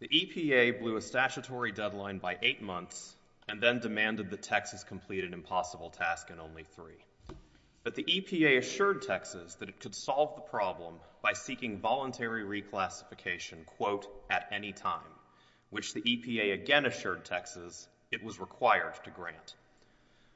The EPA blew a statutory deadline by eight months and then demanded that Texas complete an impossible task in only three. But the EPA assured Texas that it could solve the problem by seeking voluntary reclassification quote, at any time, which the EPA again assured Texas it was required to grant.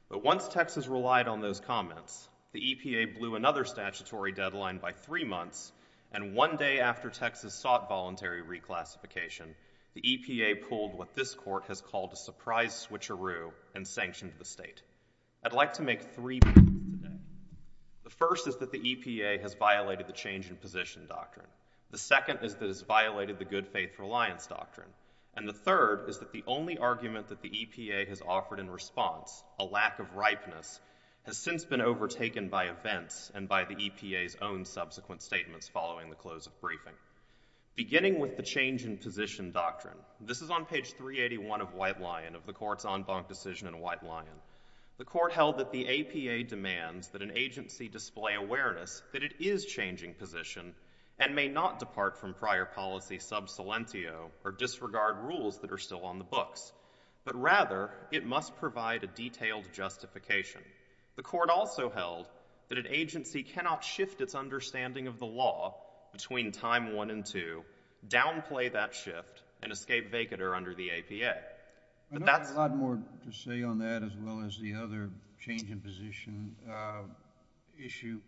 But once Texas relied on those comments, the EPA blew another statutory deadline by three months and one day after Texas sought voluntary reclassification, the EPA pulled what this court has called a surprise switcheroo and sanctioned the state. I'd like to make three points today. The first is that the EPA has violated the change in position doctrine. The second is that it's violated the good faith reliance doctrine. And the third is that the only argument that the EPA has offered in response, a lack of ripeness, has since been overtaken by events and by the EPA's own subsequent statements following the close of briefing. Beginning with the change in position doctrine, this is on page 381 of White Lion, of the court's en banc decision in White Lion. The court held that the APA demands that an agency display awareness that it is changing position and may not depart from prior policy sub silentio or disregard rules that are still on the books, but rather it must provide a detailed justification. The court also held that an agency cannot shift its understanding of the law between time one and two, downplay that shift, and escape vacator under the APA. But that's- I've got a lot more to say on that as well as the other change in position issue.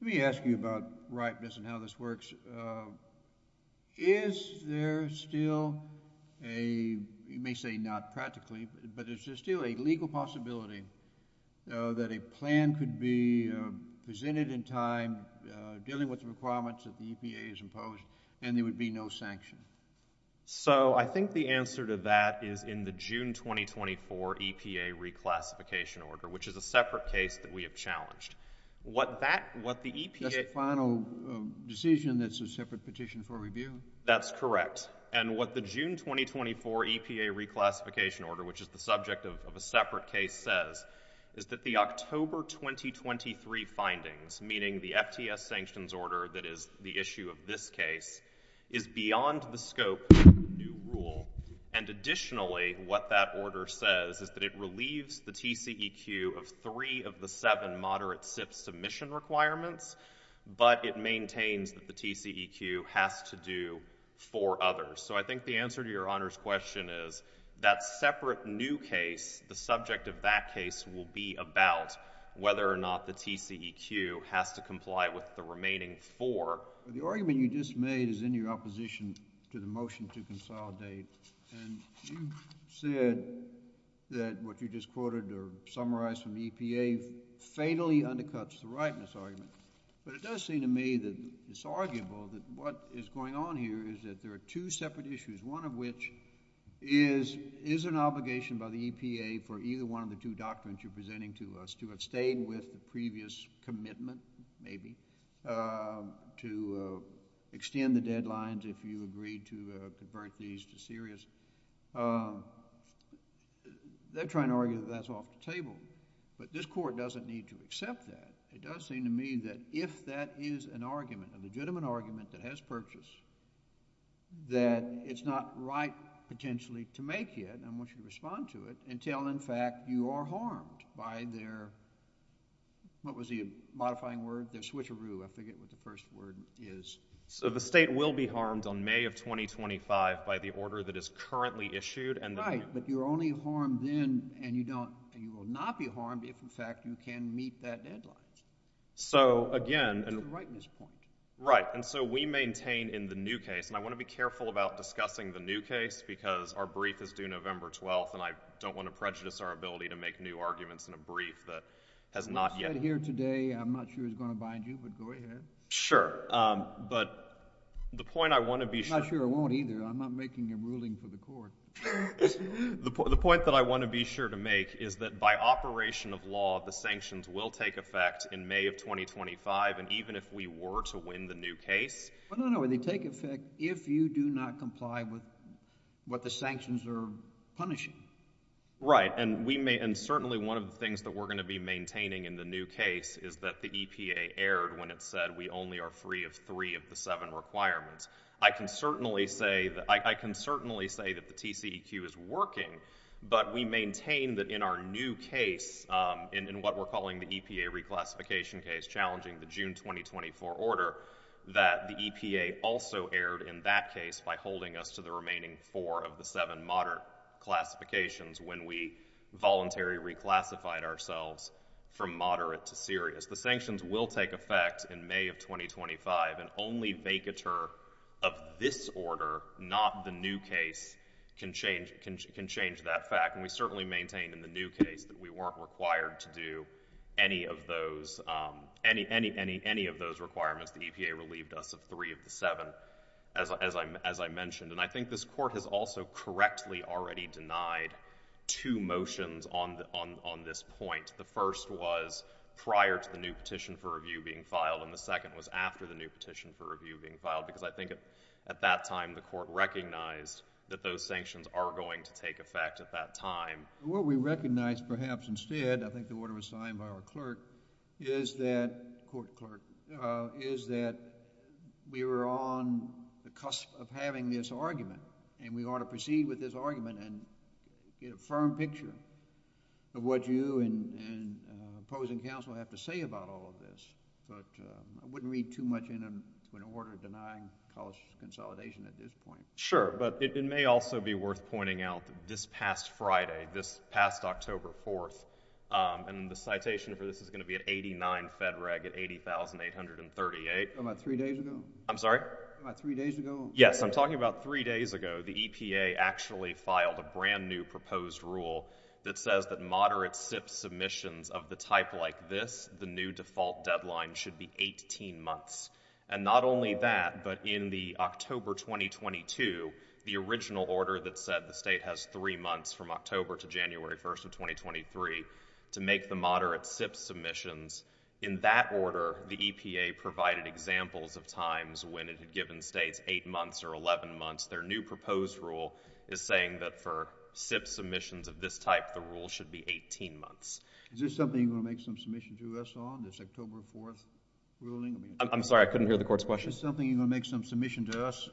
Let me ask you about ripeness and how this works. Is there still a, you may say not practically, but is there still a legal possibility that a plan could be presented in time, dealing with the requirements that the EPA has imposed, and there would be no sanction? So I think the answer to that is in the June 2024 EPA reclassification order, which is a separate case that we have challenged. What that, what the EPA- That's a final decision that's a separate petition for review? That's correct. And what the June 2024 EPA reclassification order, which is the subject of a separate case says, is that the October 2023 findings, meaning the FTS sanctions order that is the issue of this case, is beyond the scope of the new rule. And additionally, what that order says is that it relieves the TCEQ of three of the seven moderate SIPP submission requirements, but it maintains that the TCEQ has to do for others. So I think the answer to Your Honor's question is that separate new case, the subject of that case will be about whether or not the TCEQ has to comply with the remaining four. The argument you just made is in your opposition to the motion to consolidate, and you said that what you just quoted or summarized from the EPA fatally undercuts the rightness argument. But it does seem to me that it's arguable that what is going on here is that there are two separate issues, one of which is, is an obligation by the EPA for either one of the two doctrines you're presenting to us to abstain with the previous commitment, maybe, to extend the deadlines if you agree to convert these to serious. They're trying to argue that that's off the table. But this Court doesn't need to accept that. It does seem to me that if that is an argument, a legitimate argument that has purpose, that it's not right potentially to make it, and I want you to respond to it, until in fact you are harmed by their, what was the modifying word, their switcheroo. I forget what the first word is. So the state will be harmed on May of 2025 by the order that is currently issued and Right, but you're only harmed then, and you don't, you will not be harmed if in fact you can meet that deadline. So again, To the rightness point. Right, and so we maintain in the new case, and I want to be careful about discussing the new case, because our brief is due November 12th, and I don't want to prejudice our ability to make new arguments in a brief that has not yet. We've said here today, I'm not sure it's going to bind you, but go ahead. Sure, but the point I want to be sure. I'm not sure it won't either. I'm not making a ruling for the Court. The point that I want to be sure to make is that by operation of law, the sanctions will take effect in May of 2025, and even if we were to win the new case. Well, no, no, they take effect if you do not comply with what the sanctions are punishing. Right, and we may, and certainly one of the things that we're going to be maintaining in the new case is that the EPA erred when it said we only are free of three of the seven requirements. I can certainly say that, I can certainly say that the TCEQ is working, but we maintain that in our new case, in what we're calling the EPA reclassification case, challenging the June 2024 order, that the EPA also erred in that case by holding us to the remaining four of the seven moderate classifications when we voluntarily reclassified ourselves from moderate to serious. The sanctions will take effect in May of 2025, and only vacatur of this order, not the new case, can change that fact, and we certainly maintain in the new case that we weren't required to do any of those, any, any, any, any of those requirements. The EPA relieved us of three of the seven, as I mentioned, and I think this Court has also correctly already denied two motions on this point. The first was prior to the new petition for review being filed, and the second was after the new petition for review being filed, because I think at that time the Court recognized that those sanctions are going to take effect at that time. What we recognize, perhaps instead, I think the order was signed by our clerk, is that, court clerk, is that we were on the cusp of having this argument, and we ought to proceed with this argument and get a firm picture of what you and opposing counsel have to say about all of this, but I wouldn't read too much into an order denying college consolidation at this point. Sure, but it may also be worth pointing out that this past Friday, this past October 4th, and the citation for this is going to be at 89 Fed Reg at 80,838. About three days ago? I'm sorry? About three days ago? Yes, I'm talking about three days ago, the EPA actually filed a brand new proposed rule that says that moderate SIP submissions of the type like this, the new default deadline should be 18 months, and not only that, but in the October 2022, the original order that said the state has three months from October to January 1st of 2023 to make the moderate SIP submissions, in that order, the EPA provided examples of times when it had given states eight months or 11 months. Their new proposed rule is saying that for SIP submissions of this type, the rule should be 18 months. Is this something you're going to make some submission to us on, this October 4th ruling? I'm sorry, I couldn't hear the Court's question. Is this something you're going to make some submission to us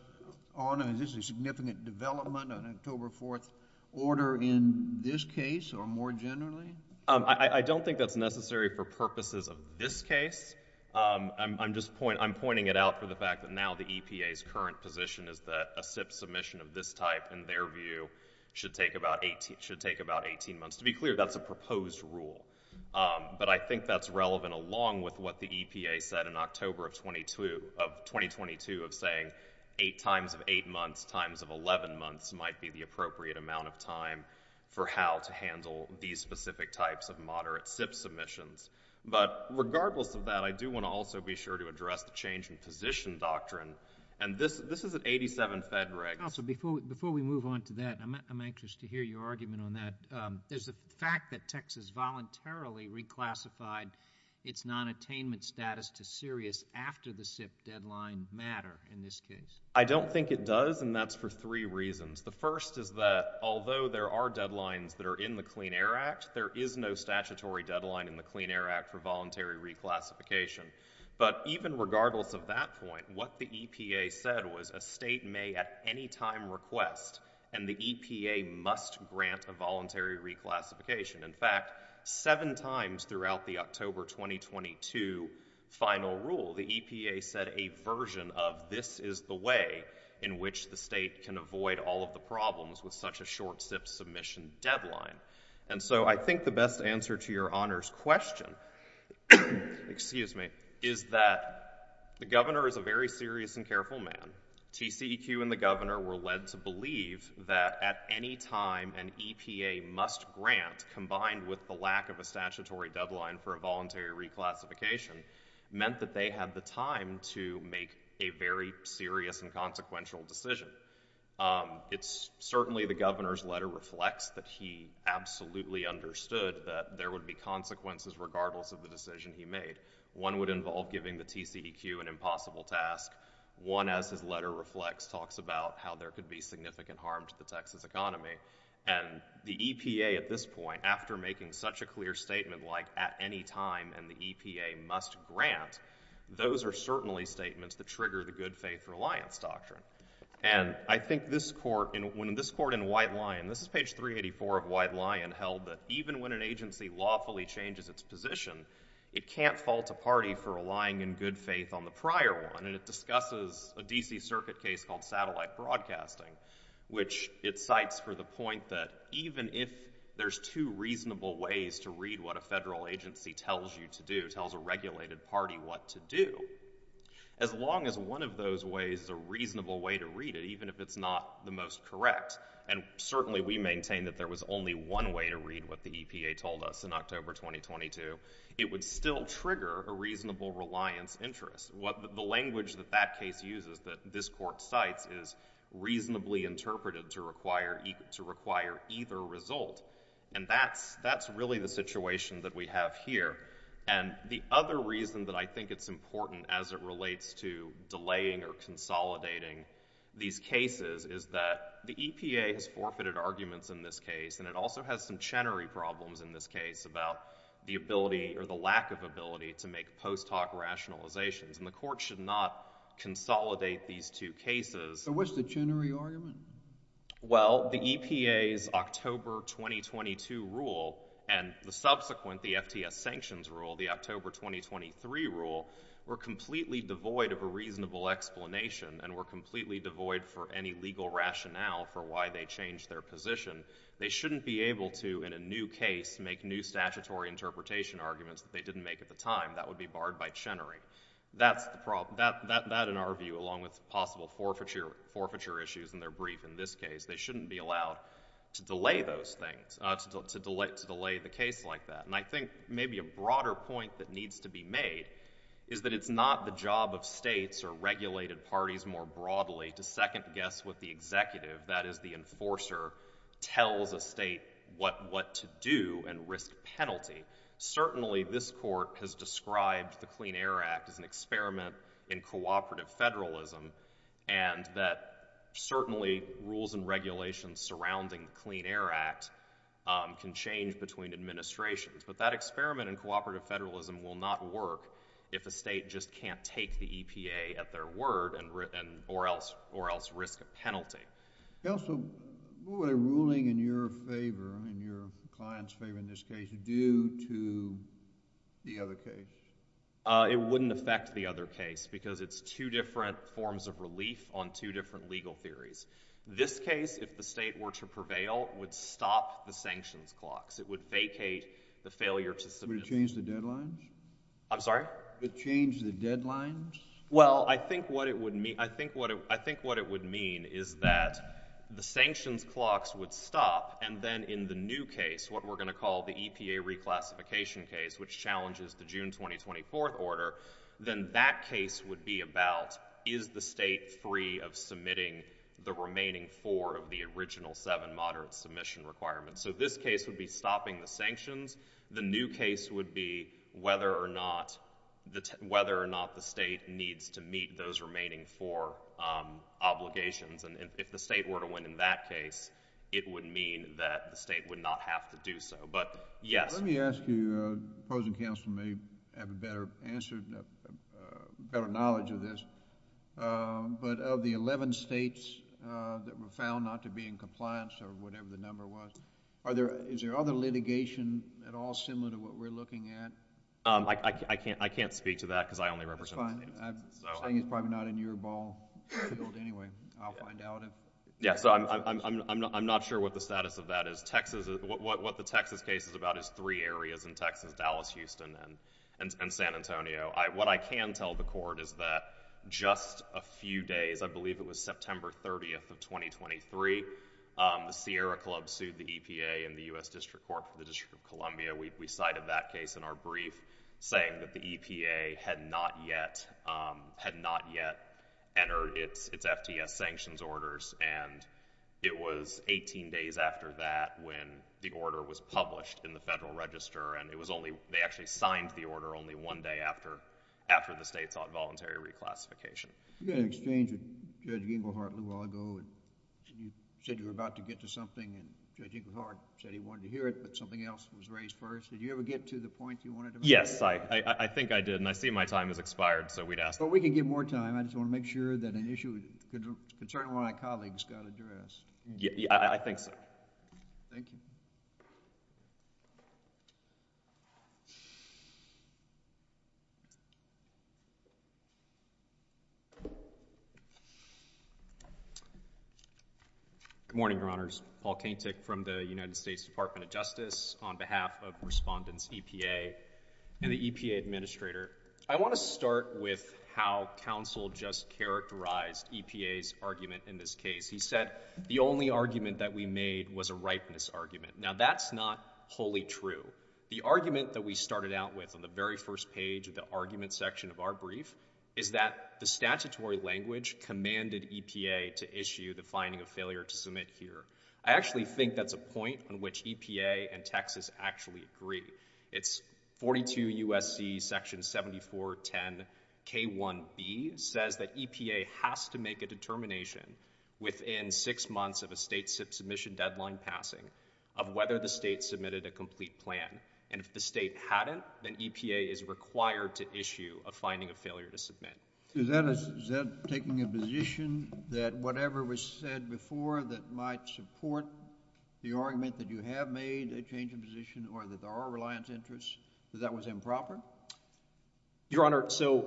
on? Is this a significant development on an October 4th order in this case or more generally? I don't think that's necessary for purposes of this case. I'm just pointing it out for the fact that now the EPA's current position is that a SIP submission of this type, in their view, should take about 18 months. To be clear, that's a proposed rule, but I think that's relevant along with what the EPA said in October of 2022 of saying times of eight months, times of 11 months might be the appropriate amount of time for how to handle these specific types of moderate SIP submissions. But regardless of that, I do want to also be sure to address the change in position doctrine, and this is at 87 Fed regs. Counsel, before we move on to that, I'm anxious to hear your argument on that. There's the fact that Texas voluntarily reclassified its nonattainment status to serious after the SIP deadline matter in this case. I don't think it does, and that's for three reasons. The first is that although there are deadlines that are in the Clean Air Act, there is no statutory deadline in the Clean Air Act for voluntary reclassification. But even regardless of that point, what the EPA said was a state may at any time request, and the EPA must grant a voluntary reclassification. In fact, seven times throughout the October 2022 final rule, the EPA said a version of this is the way in which the state can avoid all of the problems with such a short SIP submission deadline. And so I think the best answer to your Honor's question, excuse me, is that the Governor is a very serious and careful man. TCEQ and the Governor were led to believe that at any time an EPA must grant, combined with the lack of a statutory deadline for a voluntary reclassification, meant that they had the time to make a very serious and consequential decision. It's certainly the Governor's letter reflects that he absolutely understood that there would be consequences regardless of the decision he made. One would involve giving the TCEQ an impossible task, one, as his letter reflects, talks about how there could be significant harm to the Texas economy, and the EPA at this point, after making such a clear statement like at any time and the EPA must grant, those are certainly statements that trigger the good faith reliance doctrine. And I think this Court, when this Court in White Lion, this is page 384 of White Lion held that even when an agency lawfully changes its position, it can't fault a party for relying in good faith on the prior one, and it discusses a D.C. Circuit case called Satellite Broadcasting, which it cites for the point that even if there's two reasonable ways to read what a federal agency tells you to do, tells a regulated party what to do, as long as one of those ways is a reasonable way to read it, even if it's not the most correct, and certainly we maintain that there was only one way to read what the EPA told us in October 2022, it would still trigger a reasonable reliance interest. The language that that case uses that this Court cites is reasonably interpreted to require either result, and that's really the situation that we have here. And the other reason that I think it's important as it relates to delaying or consolidating these cases is that the EPA has forfeited arguments in this case, and it also has some Chenery problems in this case about the ability or the lack of ability to make post-talk rationalizations, and the Court should not consolidate these two cases. But what's the Chenery argument? Well, the EPA's October 2022 rule and the subsequent, the FTS sanctions rule, the October 2023 rule, were completely devoid of a reasonable explanation and were completely devoid for any legal rationale for why they changed their position. They shouldn't be able to, in a new case, make new statutory interpretation arguments that they didn't make at the time. That would be barred by Chenery. That's the problem. That, in our view, along with possible forfeiture issues in their brief in this case, they shouldn't be allowed to delay those things, to delay the case like that. And I think maybe a broader point that needs to be made is that it's not the job of states or regulated parties more broadly to second-guess what the executive, that is the enforcer, tells a state what to do and risk penalty. Certainly this Court has described the Clean Air Act as an experiment in cooperative federalism and that certainly rules and regulations surrounding the Clean Air Act can change between administrations but that experiment in cooperative federalism will not work if a state just can't take the EPA at their word or else risk a penalty. Counsel, what would a ruling in your favor, in your client's favor in this case, do to the other case? It wouldn't affect the other case because it's two different forms of relief on two different legal theories. This case, if the state were to prevail, would stop the sanctions clocks. It would vacate the failure to submit. Would it change the deadlines? I'm sorry? Would it change the deadlines? Well I think what it would mean is that the sanctions clocks would stop and then in the new case, what we're going to call the EPA reclassification case, which challenges the June 2024 order, then that case would be about is the state free of submitting the remaining four of the original seven moderate submission requirements. So this case would be stopping the sanctions. The new case would be whether or not the state needs to meet those remaining four obligations and if the state were to win in that case, it would mean that the state would not have to do so. But, yes. Let me ask you, the opposing counsel may have a better answer, better knowledge of this, but of the 11 states that were found not to be in compliance or whatever the number was, is there other litigation at all similar to what we're looking at? I can't speak to that because I only represent... I think it's probably not in your ball field anyway. I'll find out if... Yeah. So I'm not sure what the status of that is. What the Texas case is about is three areas in Texas, Dallas, Houston, and San Antonio. What I can tell the court is that just a few days, I believe it was September 30th of 2023, the Sierra Club sued the EPA and the U.S. District Court for the District of Columbia. We cited that case in our brief saying that the EPA had not yet entered its FTS sanctions orders and it was 18 days after that when the order was published in the Federal Register and it was only... they actually signed the order only one day after the state sought voluntary reclassification. You had an exchange with Judge Inglehart a little while ago and you said you were about to get to something and Judge Inglehart said he wanted to hear it but something else was raised first. Did you ever get to the point you wanted to make? Yes. I think I did and I see my time has expired so we'd ask... Well, we can give more time. I just want to make sure that an issue concerning one of my colleagues got addressed. I think so. Thank you. Good morning, Your Honors. Paul Kaintyk from the United States Department of Justice on behalf of Respondents EPA and the EPA Administrator. I want to start with how counsel just characterized EPA's argument in this case. He said the only argument that we made was a ripeness argument. Now that's not wholly true. The argument that we started out with on the very first page of the argument section of our brief is that the statutory language commanded EPA to issue the finding of failure to submit here. I actually think that's a point on which EPA and Texas actually agree. It's 42 U.S.C. section 7410 K1b says that EPA has to make a determination within six months of a state submission deadline passing of whether the state submitted a complete plan. And if the state hadn't, then EPA is required to issue a finding of failure to submit. Is that taking a position that whatever was said before that might support the argument that you have made, a change of position, or that there are reliance interests, that that was improper? Your Honor, so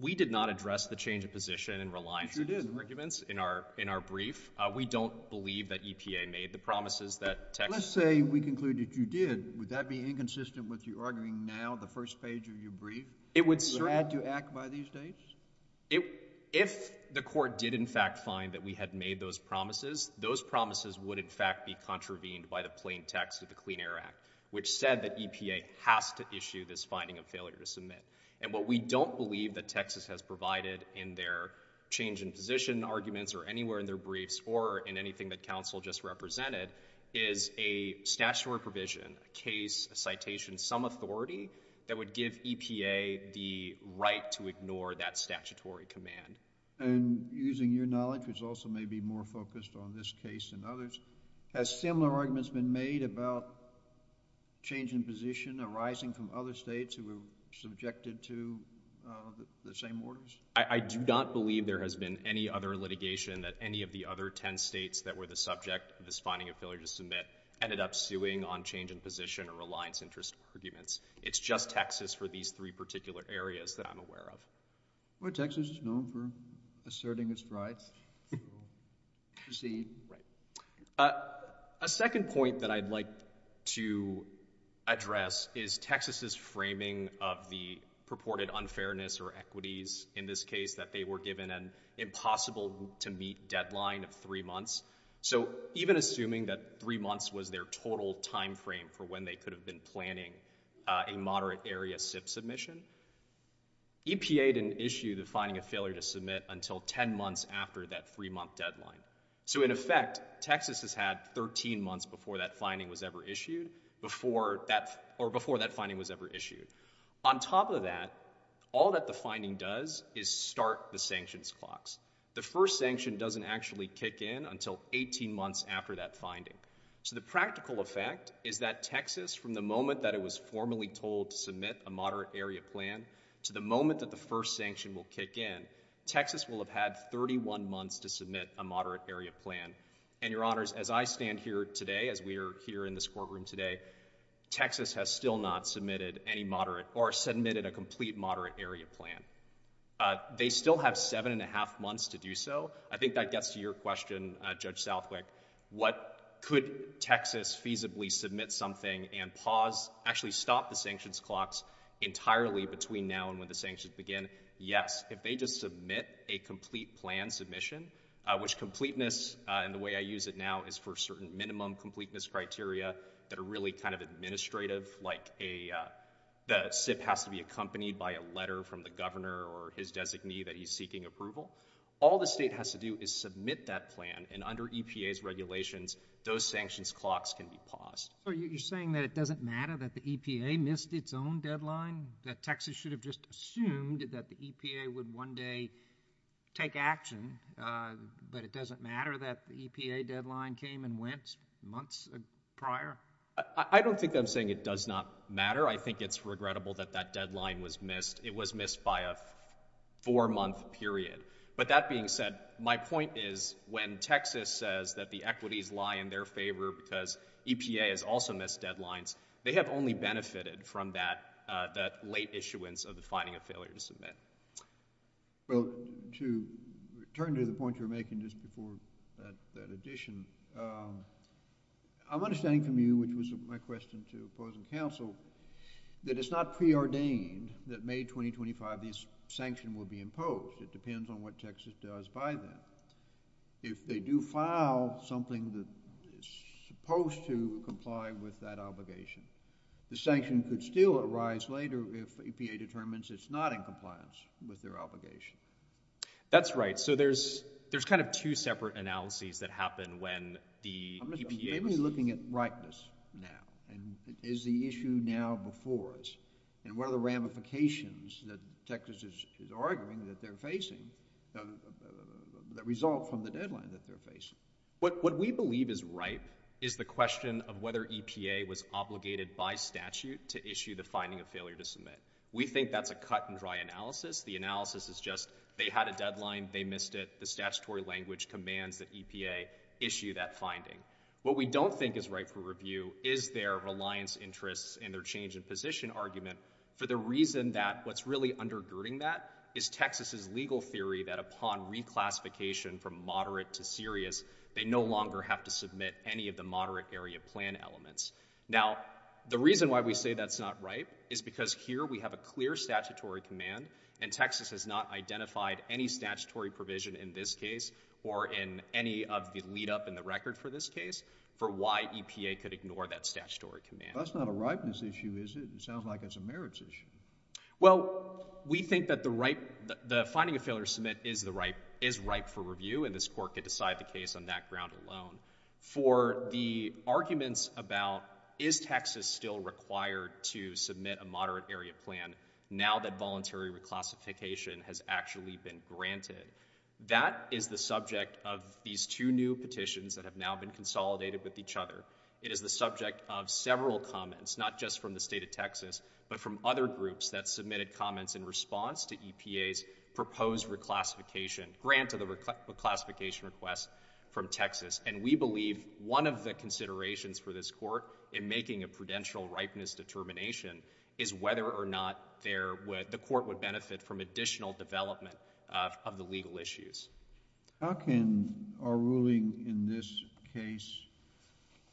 we did not address the change of position and reliance... Yes, you did.... arguments in our brief. We don't believe that EPA made the promises that Texas... Let's say we conclude that you did. Would that be inconsistent with your arguing now, the first page of your brief? It would certainly... Would it add to Act by these dates? If the Court did in fact find that we had made those promises, those promises would in fact be contravened by the plain text of the Clean Air Act, which said that EPA has to issue this finding of failure to submit. And what we don't believe that Texas has provided in their change in position arguments or anywhere in their briefs or in anything that counsel just represented is a statutory provision, a case, a citation, some authority that would give EPA the right to ignore that statutory command. And using your knowledge, which also may be more focused on this case than others, has similar arguments been made about change in position arising from other states who were subjected to the same orders? I do not believe there has been any other litigation that any of the other ten states that were the subject of this finding of failure to submit ended up suing on change in position or reliance interest arguments. It's just Texas for these three particular areas that I'm aware of. Well, Texas is known for asserting its rights. Proceed. Right. A second point that I'd like to address is Texas's framing of the purported unfairness or equities in this case that they were given an impossible-to-meet deadline of three months. So even assuming that three months was their total timeframe for when they could have been planning a moderate area SIP submission, EPA didn't issue the finding of failure to submit until ten months after that three-month deadline. So in effect, Texas has had 13 months before that finding was ever issued, or before that finding was ever issued. On top of that, all that the finding does is start the sanctions clocks. The first sanction doesn't actually kick in until 18 months after that finding. So the practical effect is that Texas, from the moment that it was formally told to submit a moderate area plan to the moment that the first sanction will kick in, Texas will have had 31 months to submit a moderate area plan. And Your Honors, as I stand here today, as we are here in this courtroom today, Texas has still not submitted any moderate, or submitted a complete moderate area plan. They still have seven-and-a-half months to do so. I think that gets to your question, Judge Southwick, what could Texas feasibly submit something and pause, actually stop the sanctions clocks entirely between now and when the sanctions begin? Yes, if they just submit a complete plan submission, which completeness, in the way I use it now, is for certain minimum completeness criteria that are really kind of administrative, like a, uh, the SIP has to be accompanied by a letter from the governor or his designee that he's seeking approval. All the state has to do is submit that plan, and under EPA's regulations, those sanctions clocks can be paused. So you're saying that it doesn't matter that the EPA missed its own deadline? That Texas should have just assumed that the EPA would one day take action, uh, but it doesn't matter that the EPA deadline came and went months prior? I don't think I'm saying it does not matter. I think it's regrettable that that deadline was missed. It was missed by a four-month period. But that being said, my point is, when Texas says that the equities lie in their favor because EPA has also missed deadlines, they have only benefited from that, uh, that late issuance of the finding of failure to submit. Well, to return to the point you were making just before that, that addition, um, I'm understanding from you, which was my question to opposing counsel, that it's not preordained that May 2025, this sanction will be imposed. It depends on what Texas does by then. If they do file something that is supposed to comply with that obligation, the sanction could still arise later if EPA determines it's not in compliance with their obligation. That's right. So there's, there's kind of two separate analyses that happen when the EPA... I'm mainly looking at ripeness now, and is the issue now before us, and what are the ramifications that Texas is, is arguing that they're facing, uh, that result from the deadline that they're facing? What, what we believe is ripe is the question of whether EPA was obligated by statute to issue the finding of failure to submit. We think that's a cut and dry analysis. The analysis is just, they had a deadline, they missed it, the statutory language commands that EPA issue that finding. What we don't think is right for review is their reliance interests and their change in position argument for the reason that what's really undergirding that is Texas's legal theory that upon reclassification from moderate to serious, they no longer have to submit any of the moderate area plan elements. Now the reason why we say that's not right is because here we have a clear statutory command and Texas has not identified any statutory provision in this case or in any of the lead up in the record for this case for why EPA could ignore that statutory command. That's not a ripeness issue, is it? It sounds like it's a merits issue. Well, we think that the right, the finding of failure to submit is the right, is ripe for review and this court could decide the case on that ground alone. For the arguments about is Texas still required to submit a moderate area plan now that voluntary reclassification has actually been granted, that is the subject of these two new petitions that have now been consolidated with each other. It is the subject of several comments, not just from the state of Texas, but from other groups that submitted comments in response to EPA's proposed reclassification, grant of the reclassification request from Texas. And we believe one of the considerations for this court in making a prudential ripeness determination is whether or not there, the court would benefit from additional development of the legal issues. How can our ruling in this case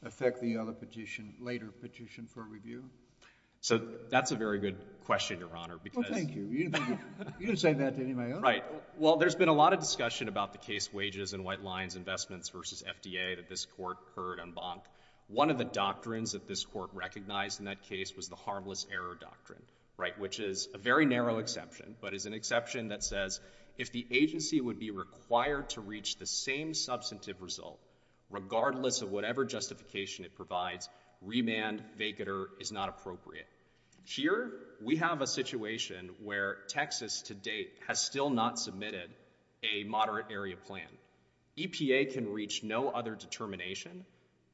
affect the other petition, later petition for review? So that's a very good question, Your Honor, because... Well, thank you. You didn't say that to any of my other... Right. Well, there's been a lot of discussion about the case wages and white lines investments versus FDA that this court heard on Bonk. One of the doctrines that this court recognized in that case was the harmless error doctrine, right, which is a very narrow exception, but is an exception that says if the agency would be required to reach the same substantive result, regardless of whatever justification it provides, remand, vacater, is not appropriate. Here we have a situation where Texas, to date, has still not submitted a moderate area plan. EPA can reach no other determination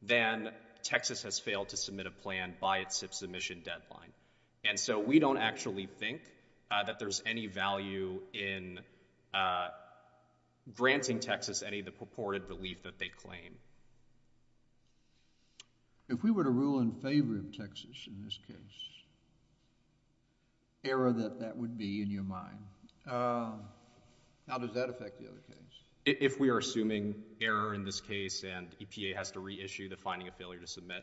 than Texas has failed to submit a plan by its submission deadline. And so we don't actually think that there's any value in granting Texas any of the purported relief that they claim. If we were to rule in favor of Texas in this case, error that that would be in your mind, how does that affect the other case? If we are assuming error in this case and EPA has to reissue the finding of failure to submit.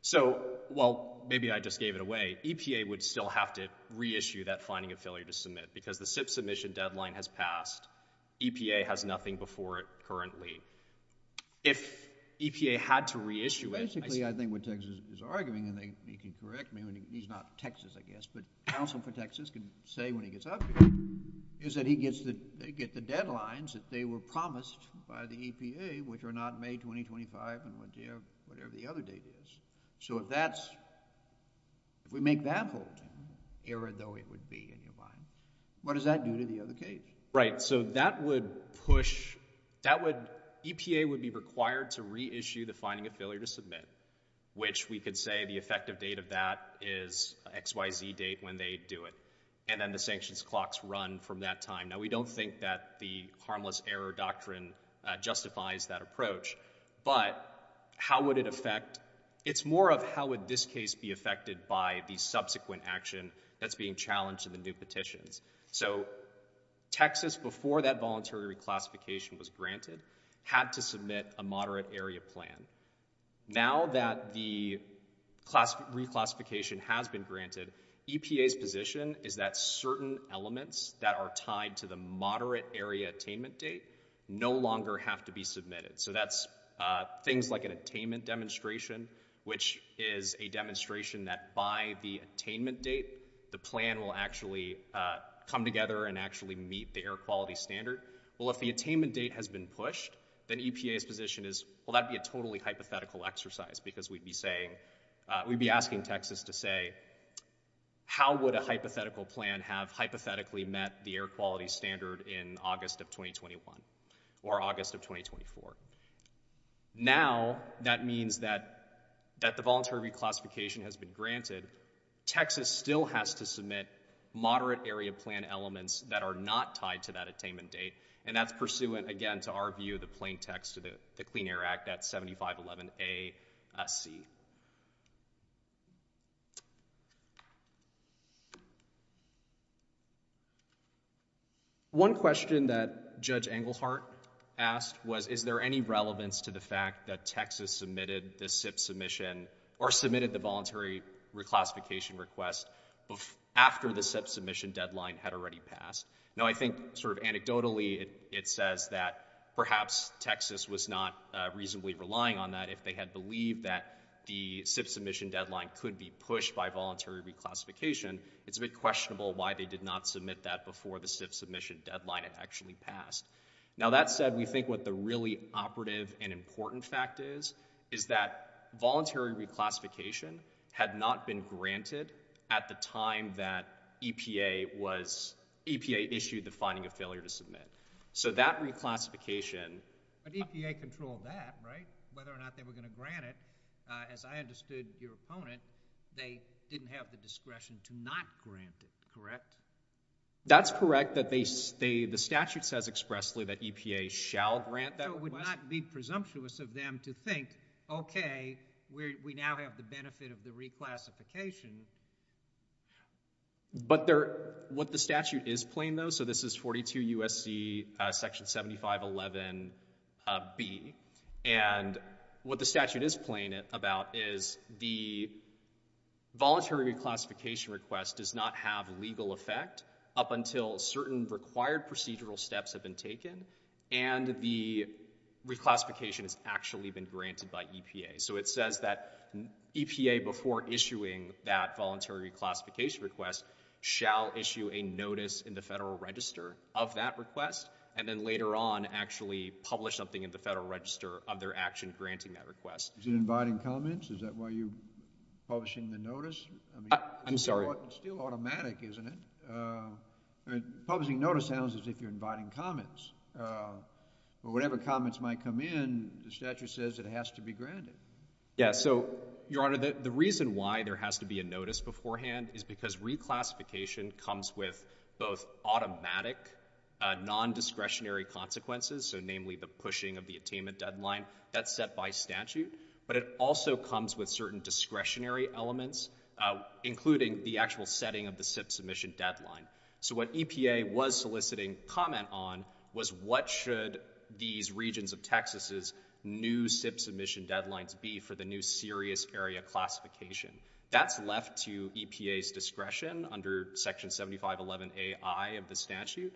So while maybe I just gave it away, EPA would still have to reissue that finding of failure to submit because the SIPP submission deadline has passed. EPA has nothing before it currently. If EPA had to reissue it, I see. Basically, I think what Texas is arguing, and he can correct me when he's not Texas, I guess, but counsel for Texas can say when he gets up here, is that he gets the deadlines that they were promised by the EPA, which are not May 2025 and whatever the other date is. So if that's, if we make that hold, error though it would be in your mind, what does that do to the other case? Right. So that would push, that would, EPA would be required to reissue the finding of failure to submit, which we could say the effective date of that is XYZ date when they do it. And then the sanctions clocks run from that time. Now, we don't think that the harmless error doctrine justifies that approach, but how would it affect, it's more of how would this case be affected by the subsequent action that's being challenged in the new petitions. So Texas, before that voluntary reclassification was granted, had to submit a moderate area plan. Now that the reclassification has been granted, EPA's position is that certain elements that are tied to the moderate area attainment date no longer have to be submitted. So that's things like an attainment demonstration, which is a demonstration that by the attainment date, the plan will actually come together and actually meet the air quality standard. Well, if the attainment date has been pushed, then EPA's position is, well, that'd be a totally hypothetical exercise because we'd be saying, we'd be asking Texas to say, how would a hypothetical plan have hypothetically met the air quality standard in August of 2021 or August of 2024? Now that means that the voluntary reclassification has been granted, Texas still has to submit moderate area plan elements that are not tied to that attainment date. And that's pursuant, again, to our view, the plain text of the Clean Air Act, that's 7511A.C. One question that Judge Englehart asked was, is there any relevance to the fact that Texas submitted the SIP submission or submitted the voluntary reclassification request after the SIP submission deadline had already passed? Now, I think sort of anecdotally, it says that perhaps Texas was not reasonably relying on that if they had believed that the SIP submission deadline could be pushed by voluntary reclassification. It's a bit questionable why they did not submit that before the SIP submission deadline had actually passed. Now, that said, we think what the really operative and important fact is, is that voluntary reclassification had not been granted at the time that EPA issued the finding of failure to submit. So that reclassification... But EPA controlled that, right? Whether or not they were going to grant it, as I understood your opponent, they didn't have the discretion to not grant it, correct? That's correct. The statute says expressly that EPA shall grant that request. So it would not be presumptuous of them to think, okay, we now have the benefit of the reclassification. But what the statute is playing, though, so this is 42 U.S.C. section 7511B, and what the statute is playing about is the voluntary reclassification request does not have legal effect up until certain required procedural steps have been taken, and the reclassification has actually been granted by EPA. So it says that EPA, before issuing that voluntary reclassification request, shall issue a notice in the Federal Register of that request, and then later on actually publish something in the Federal Register of their action granting that request. Is it inviting comments? Is that why you're publishing the notice? I'm sorry. It's still automatic, isn't it? Publishing notice sounds as if you're inviting comments. But whatever comments might come in, the statute says it has to be granted. Yeah. So, Your Honor, the reason why there has to be a notice beforehand is because reclassification comes with both automatic nondiscretionary consequences, so namely the pushing of the attainment deadline, that's set by statute, but it also comes with certain discretionary elements, including the actual setting of the SIPP submission deadline. So what EPA was soliciting comment on was what should these regions of Texas's new SIPP submission deadlines be for the new serious area classification. That's left to EPA's discretion under Section 7511AI of the statute.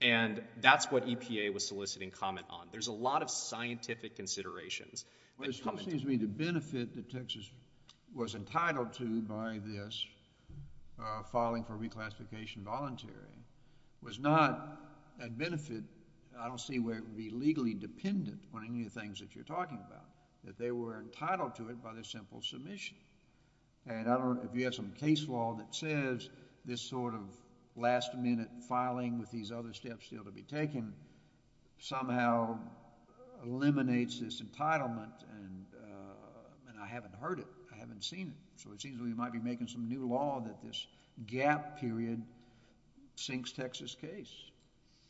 And that's what EPA was soliciting comment on. There's a lot of scientific considerations. Well, it still seems to me the benefit that Texas was entitled to by this filing for reclassification voluntary was not a benefit, I don't see where it would be legally dependent on any of the other steps that you're talking about, that they were entitled to it by the simple submission. And I don't know if you have some case law that says this sort of last-minute filing with these other steps still to be taken somehow eliminates this entitlement and I haven't heard it, I haven't seen it. So it seems we might be making some new law that this gap period sinks Texas's case.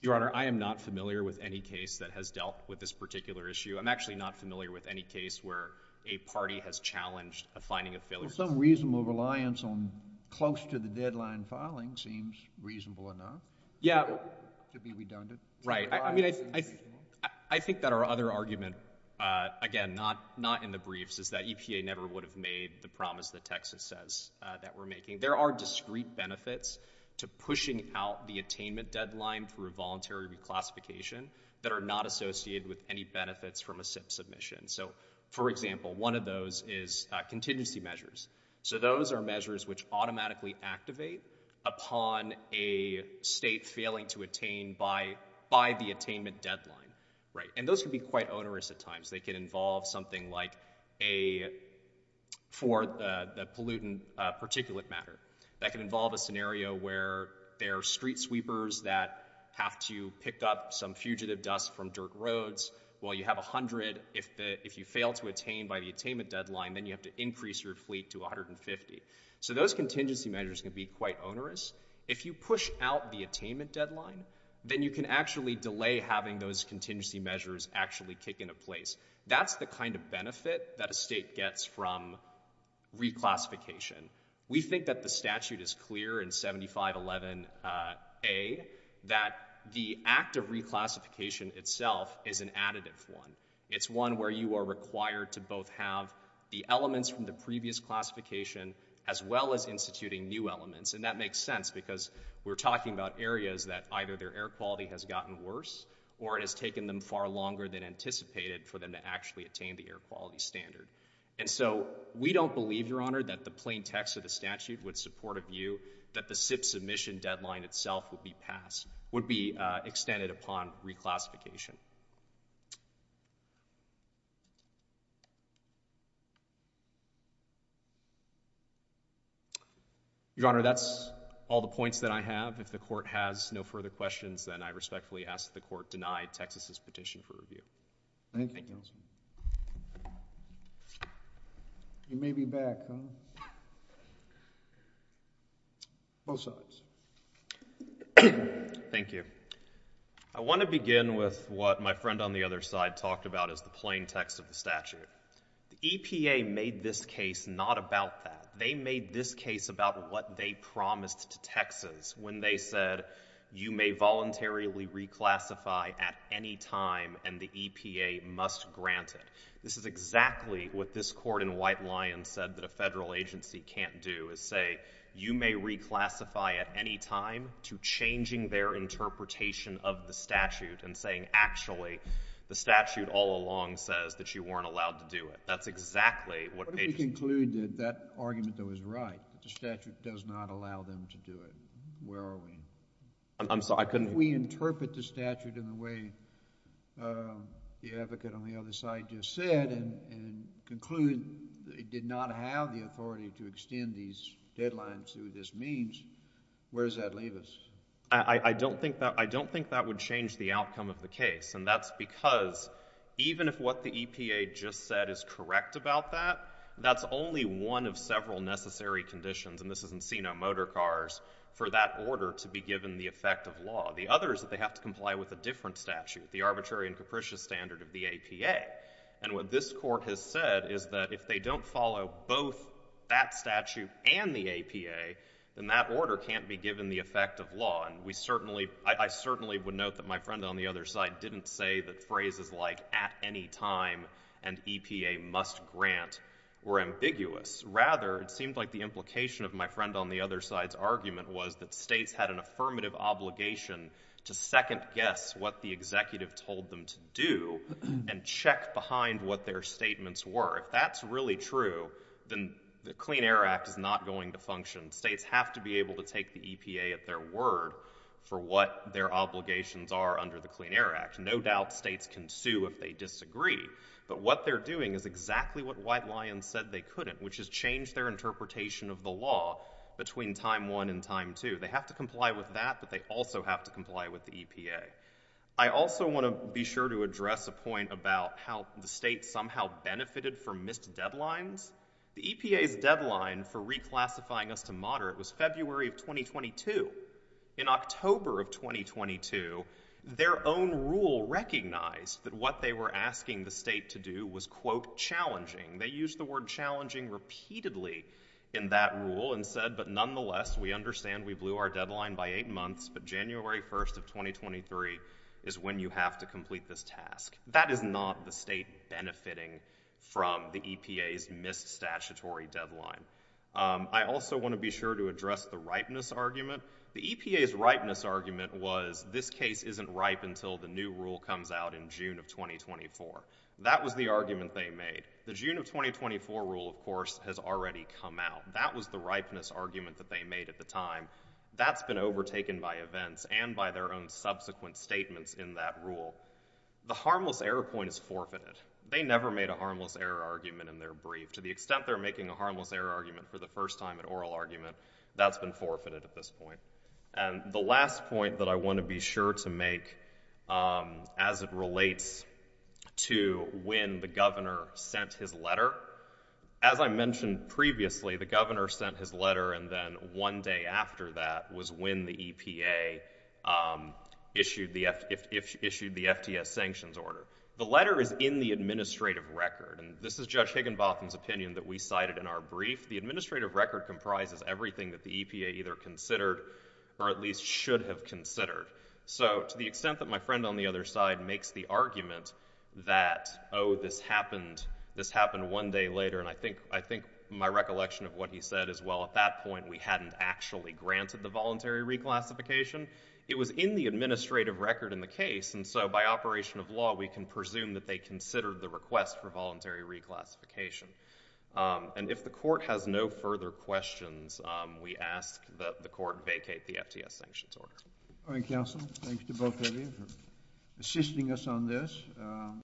Your Honor, I am not familiar with any case that has dealt with this particular issue. I'm actually not familiar with any case where a party has challenged a finding of failure. Some reasonable reliance on close to the deadline filing seems reasonable enough. Yeah. To be redundant. Right. I mean, I think that our other argument, again, not in the briefs, is that EPA never would have made the promise that Texas says that we're making. There are discrete benefits to pushing out the attainment deadline for a voluntary reclassification that are not associated with any benefits from a SIP submission. So for example, one of those is contingency measures. So those are measures which automatically activate upon a state failing to attain by the attainment deadline, right? And those can be quite onerous at times. They can involve something like a, for the pollutant particulate matter. That can involve a scenario where there are street sweepers that have to pick up some fugitive dust from dirt roads while you have a hundred. If you fail to attain by the attainment deadline, then you have to increase your fleet to 150. So those contingency measures can be quite onerous. If you push out the attainment deadline, then you can actually delay having those contingency measures actually kick into place. That's the kind of benefit that a state gets from reclassification. We think that the statute is clear in 7511A, that the act of reclassification itself is an additive one. It's one where you are required to both have the elements from the previous classification as well as instituting new elements, and that makes sense because we're talking about areas that either their air quality has gotten worse or it has taken them far longer than anticipated for them to actually attain the air quality standard. And so we don't believe, Your Honor, that the plain text of the statute would support a view that the SIPP submission deadline itself would be passed, would be extended upon reclassification. Your Honor, that's all the points that I have. If the court has no further questions, then I respectfully ask that the court deny Texas's petition for review. You may be back, huh? Both sides. Thank you. I want to begin with what my friend on the other side talked about as the plain text of the statute. The EPA made this case not about that. They made this case about what they promised to Texas when they said you may voluntarily reclassify at any time and the EPA must grant it. This is exactly what this court in White Lion said that a federal agency can't do, is say you may reclassify at any time to changing their interpretation of the statute and saying actually the statute all along says that you weren't allowed to do it. That's exactly what they just— What if we conclude that that argument, though, is right, that the statute does not allow them to do it? Where are we? I'm sorry, I couldn't— If we interpret the statute in the way the advocate on the other side just said and conclude they did not have the authority to extend these deadlines through this means, where does that leave us? I don't think that would change the outcome of the case and that's because even if what the EPA just said is correct about that, that's only one of several necessary conditions and this is Encino Motor Cars, for that order to be given the effect of law. The other is that they have to comply with a different statute, the arbitrary and capricious standard of the APA. And what this court has said is that if they don't follow both that statute and the APA, then that order can't be given the effect of law. And we certainly—I certainly would note that my friend on the other side didn't say that phrases like at any time and EPA must grant were ambiguous. Rather, it seemed like the implication of my friend on the other side's argument was that states had an affirmative obligation to second guess what the executive told them to do and check behind what their statements were. If that's really true, then the Clean Air Act is not going to function. States have to be able to take the EPA at their word for what their obligations are under the Clean Air Act. No doubt states can sue if they disagree, but what they're doing is exactly what White has done, which is change their interpretation of the law between time 1 and time 2. They have to comply with that, but they also have to comply with the EPA. I also want to be sure to address a point about how the states somehow benefited from missed deadlines. The EPA's deadline for reclassifying us to moderate was February of 2022. In October of 2022, their own rule recognized that what they were asking the state to do was, quote, challenging. They used the word challenging repeatedly in that rule and said, but nonetheless, we understand we blew our deadline by eight months, but January 1st of 2023 is when you have to complete this task. That is not the state benefiting from the EPA's missed statutory deadline. I also want to be sure to address the ripeness argument. The EPA's ripeness argument was this case isn't ripe until the new rule comes out in June of 2024. That was the argument they made. The June of 2024 rule, of course, has already come out. That was the ripeness argument that they made at the time. That's been overtaken by events and by their own subsequent statements in that rule. The harmless error point is forfeited. They never made a harmless error argument in their brief. To the extent they're making a harmless error argument for the first time, an oral argument, that's been forfeited at this point. The last point that I want to be sure to make as it relates to when the governor sent his letter, as I mentioned previously, the governor sent his letter and then one day after that was when the EPA issued the FTS sanctions order. The letter is in the administrative record. This is Judge Higginbotham's opinion that we cited in our brief. The administrative record comprises everything that the EPA either considered or at least should have considered. To the extent that my friend on the other side makes the argument that, oh, this happened one day later, and I think my recollection of what he said is, well, at that point, we hadn't actually granted the voluntary reclassification. It was in the administrative record in the case. By operation of law, we can presume that they considered the request for voluntary reclassification. And if the court has no further questions, we ask that the court vacate the FTS sanctions order. All right, counsel. Thanks to both of you for assisting us on this.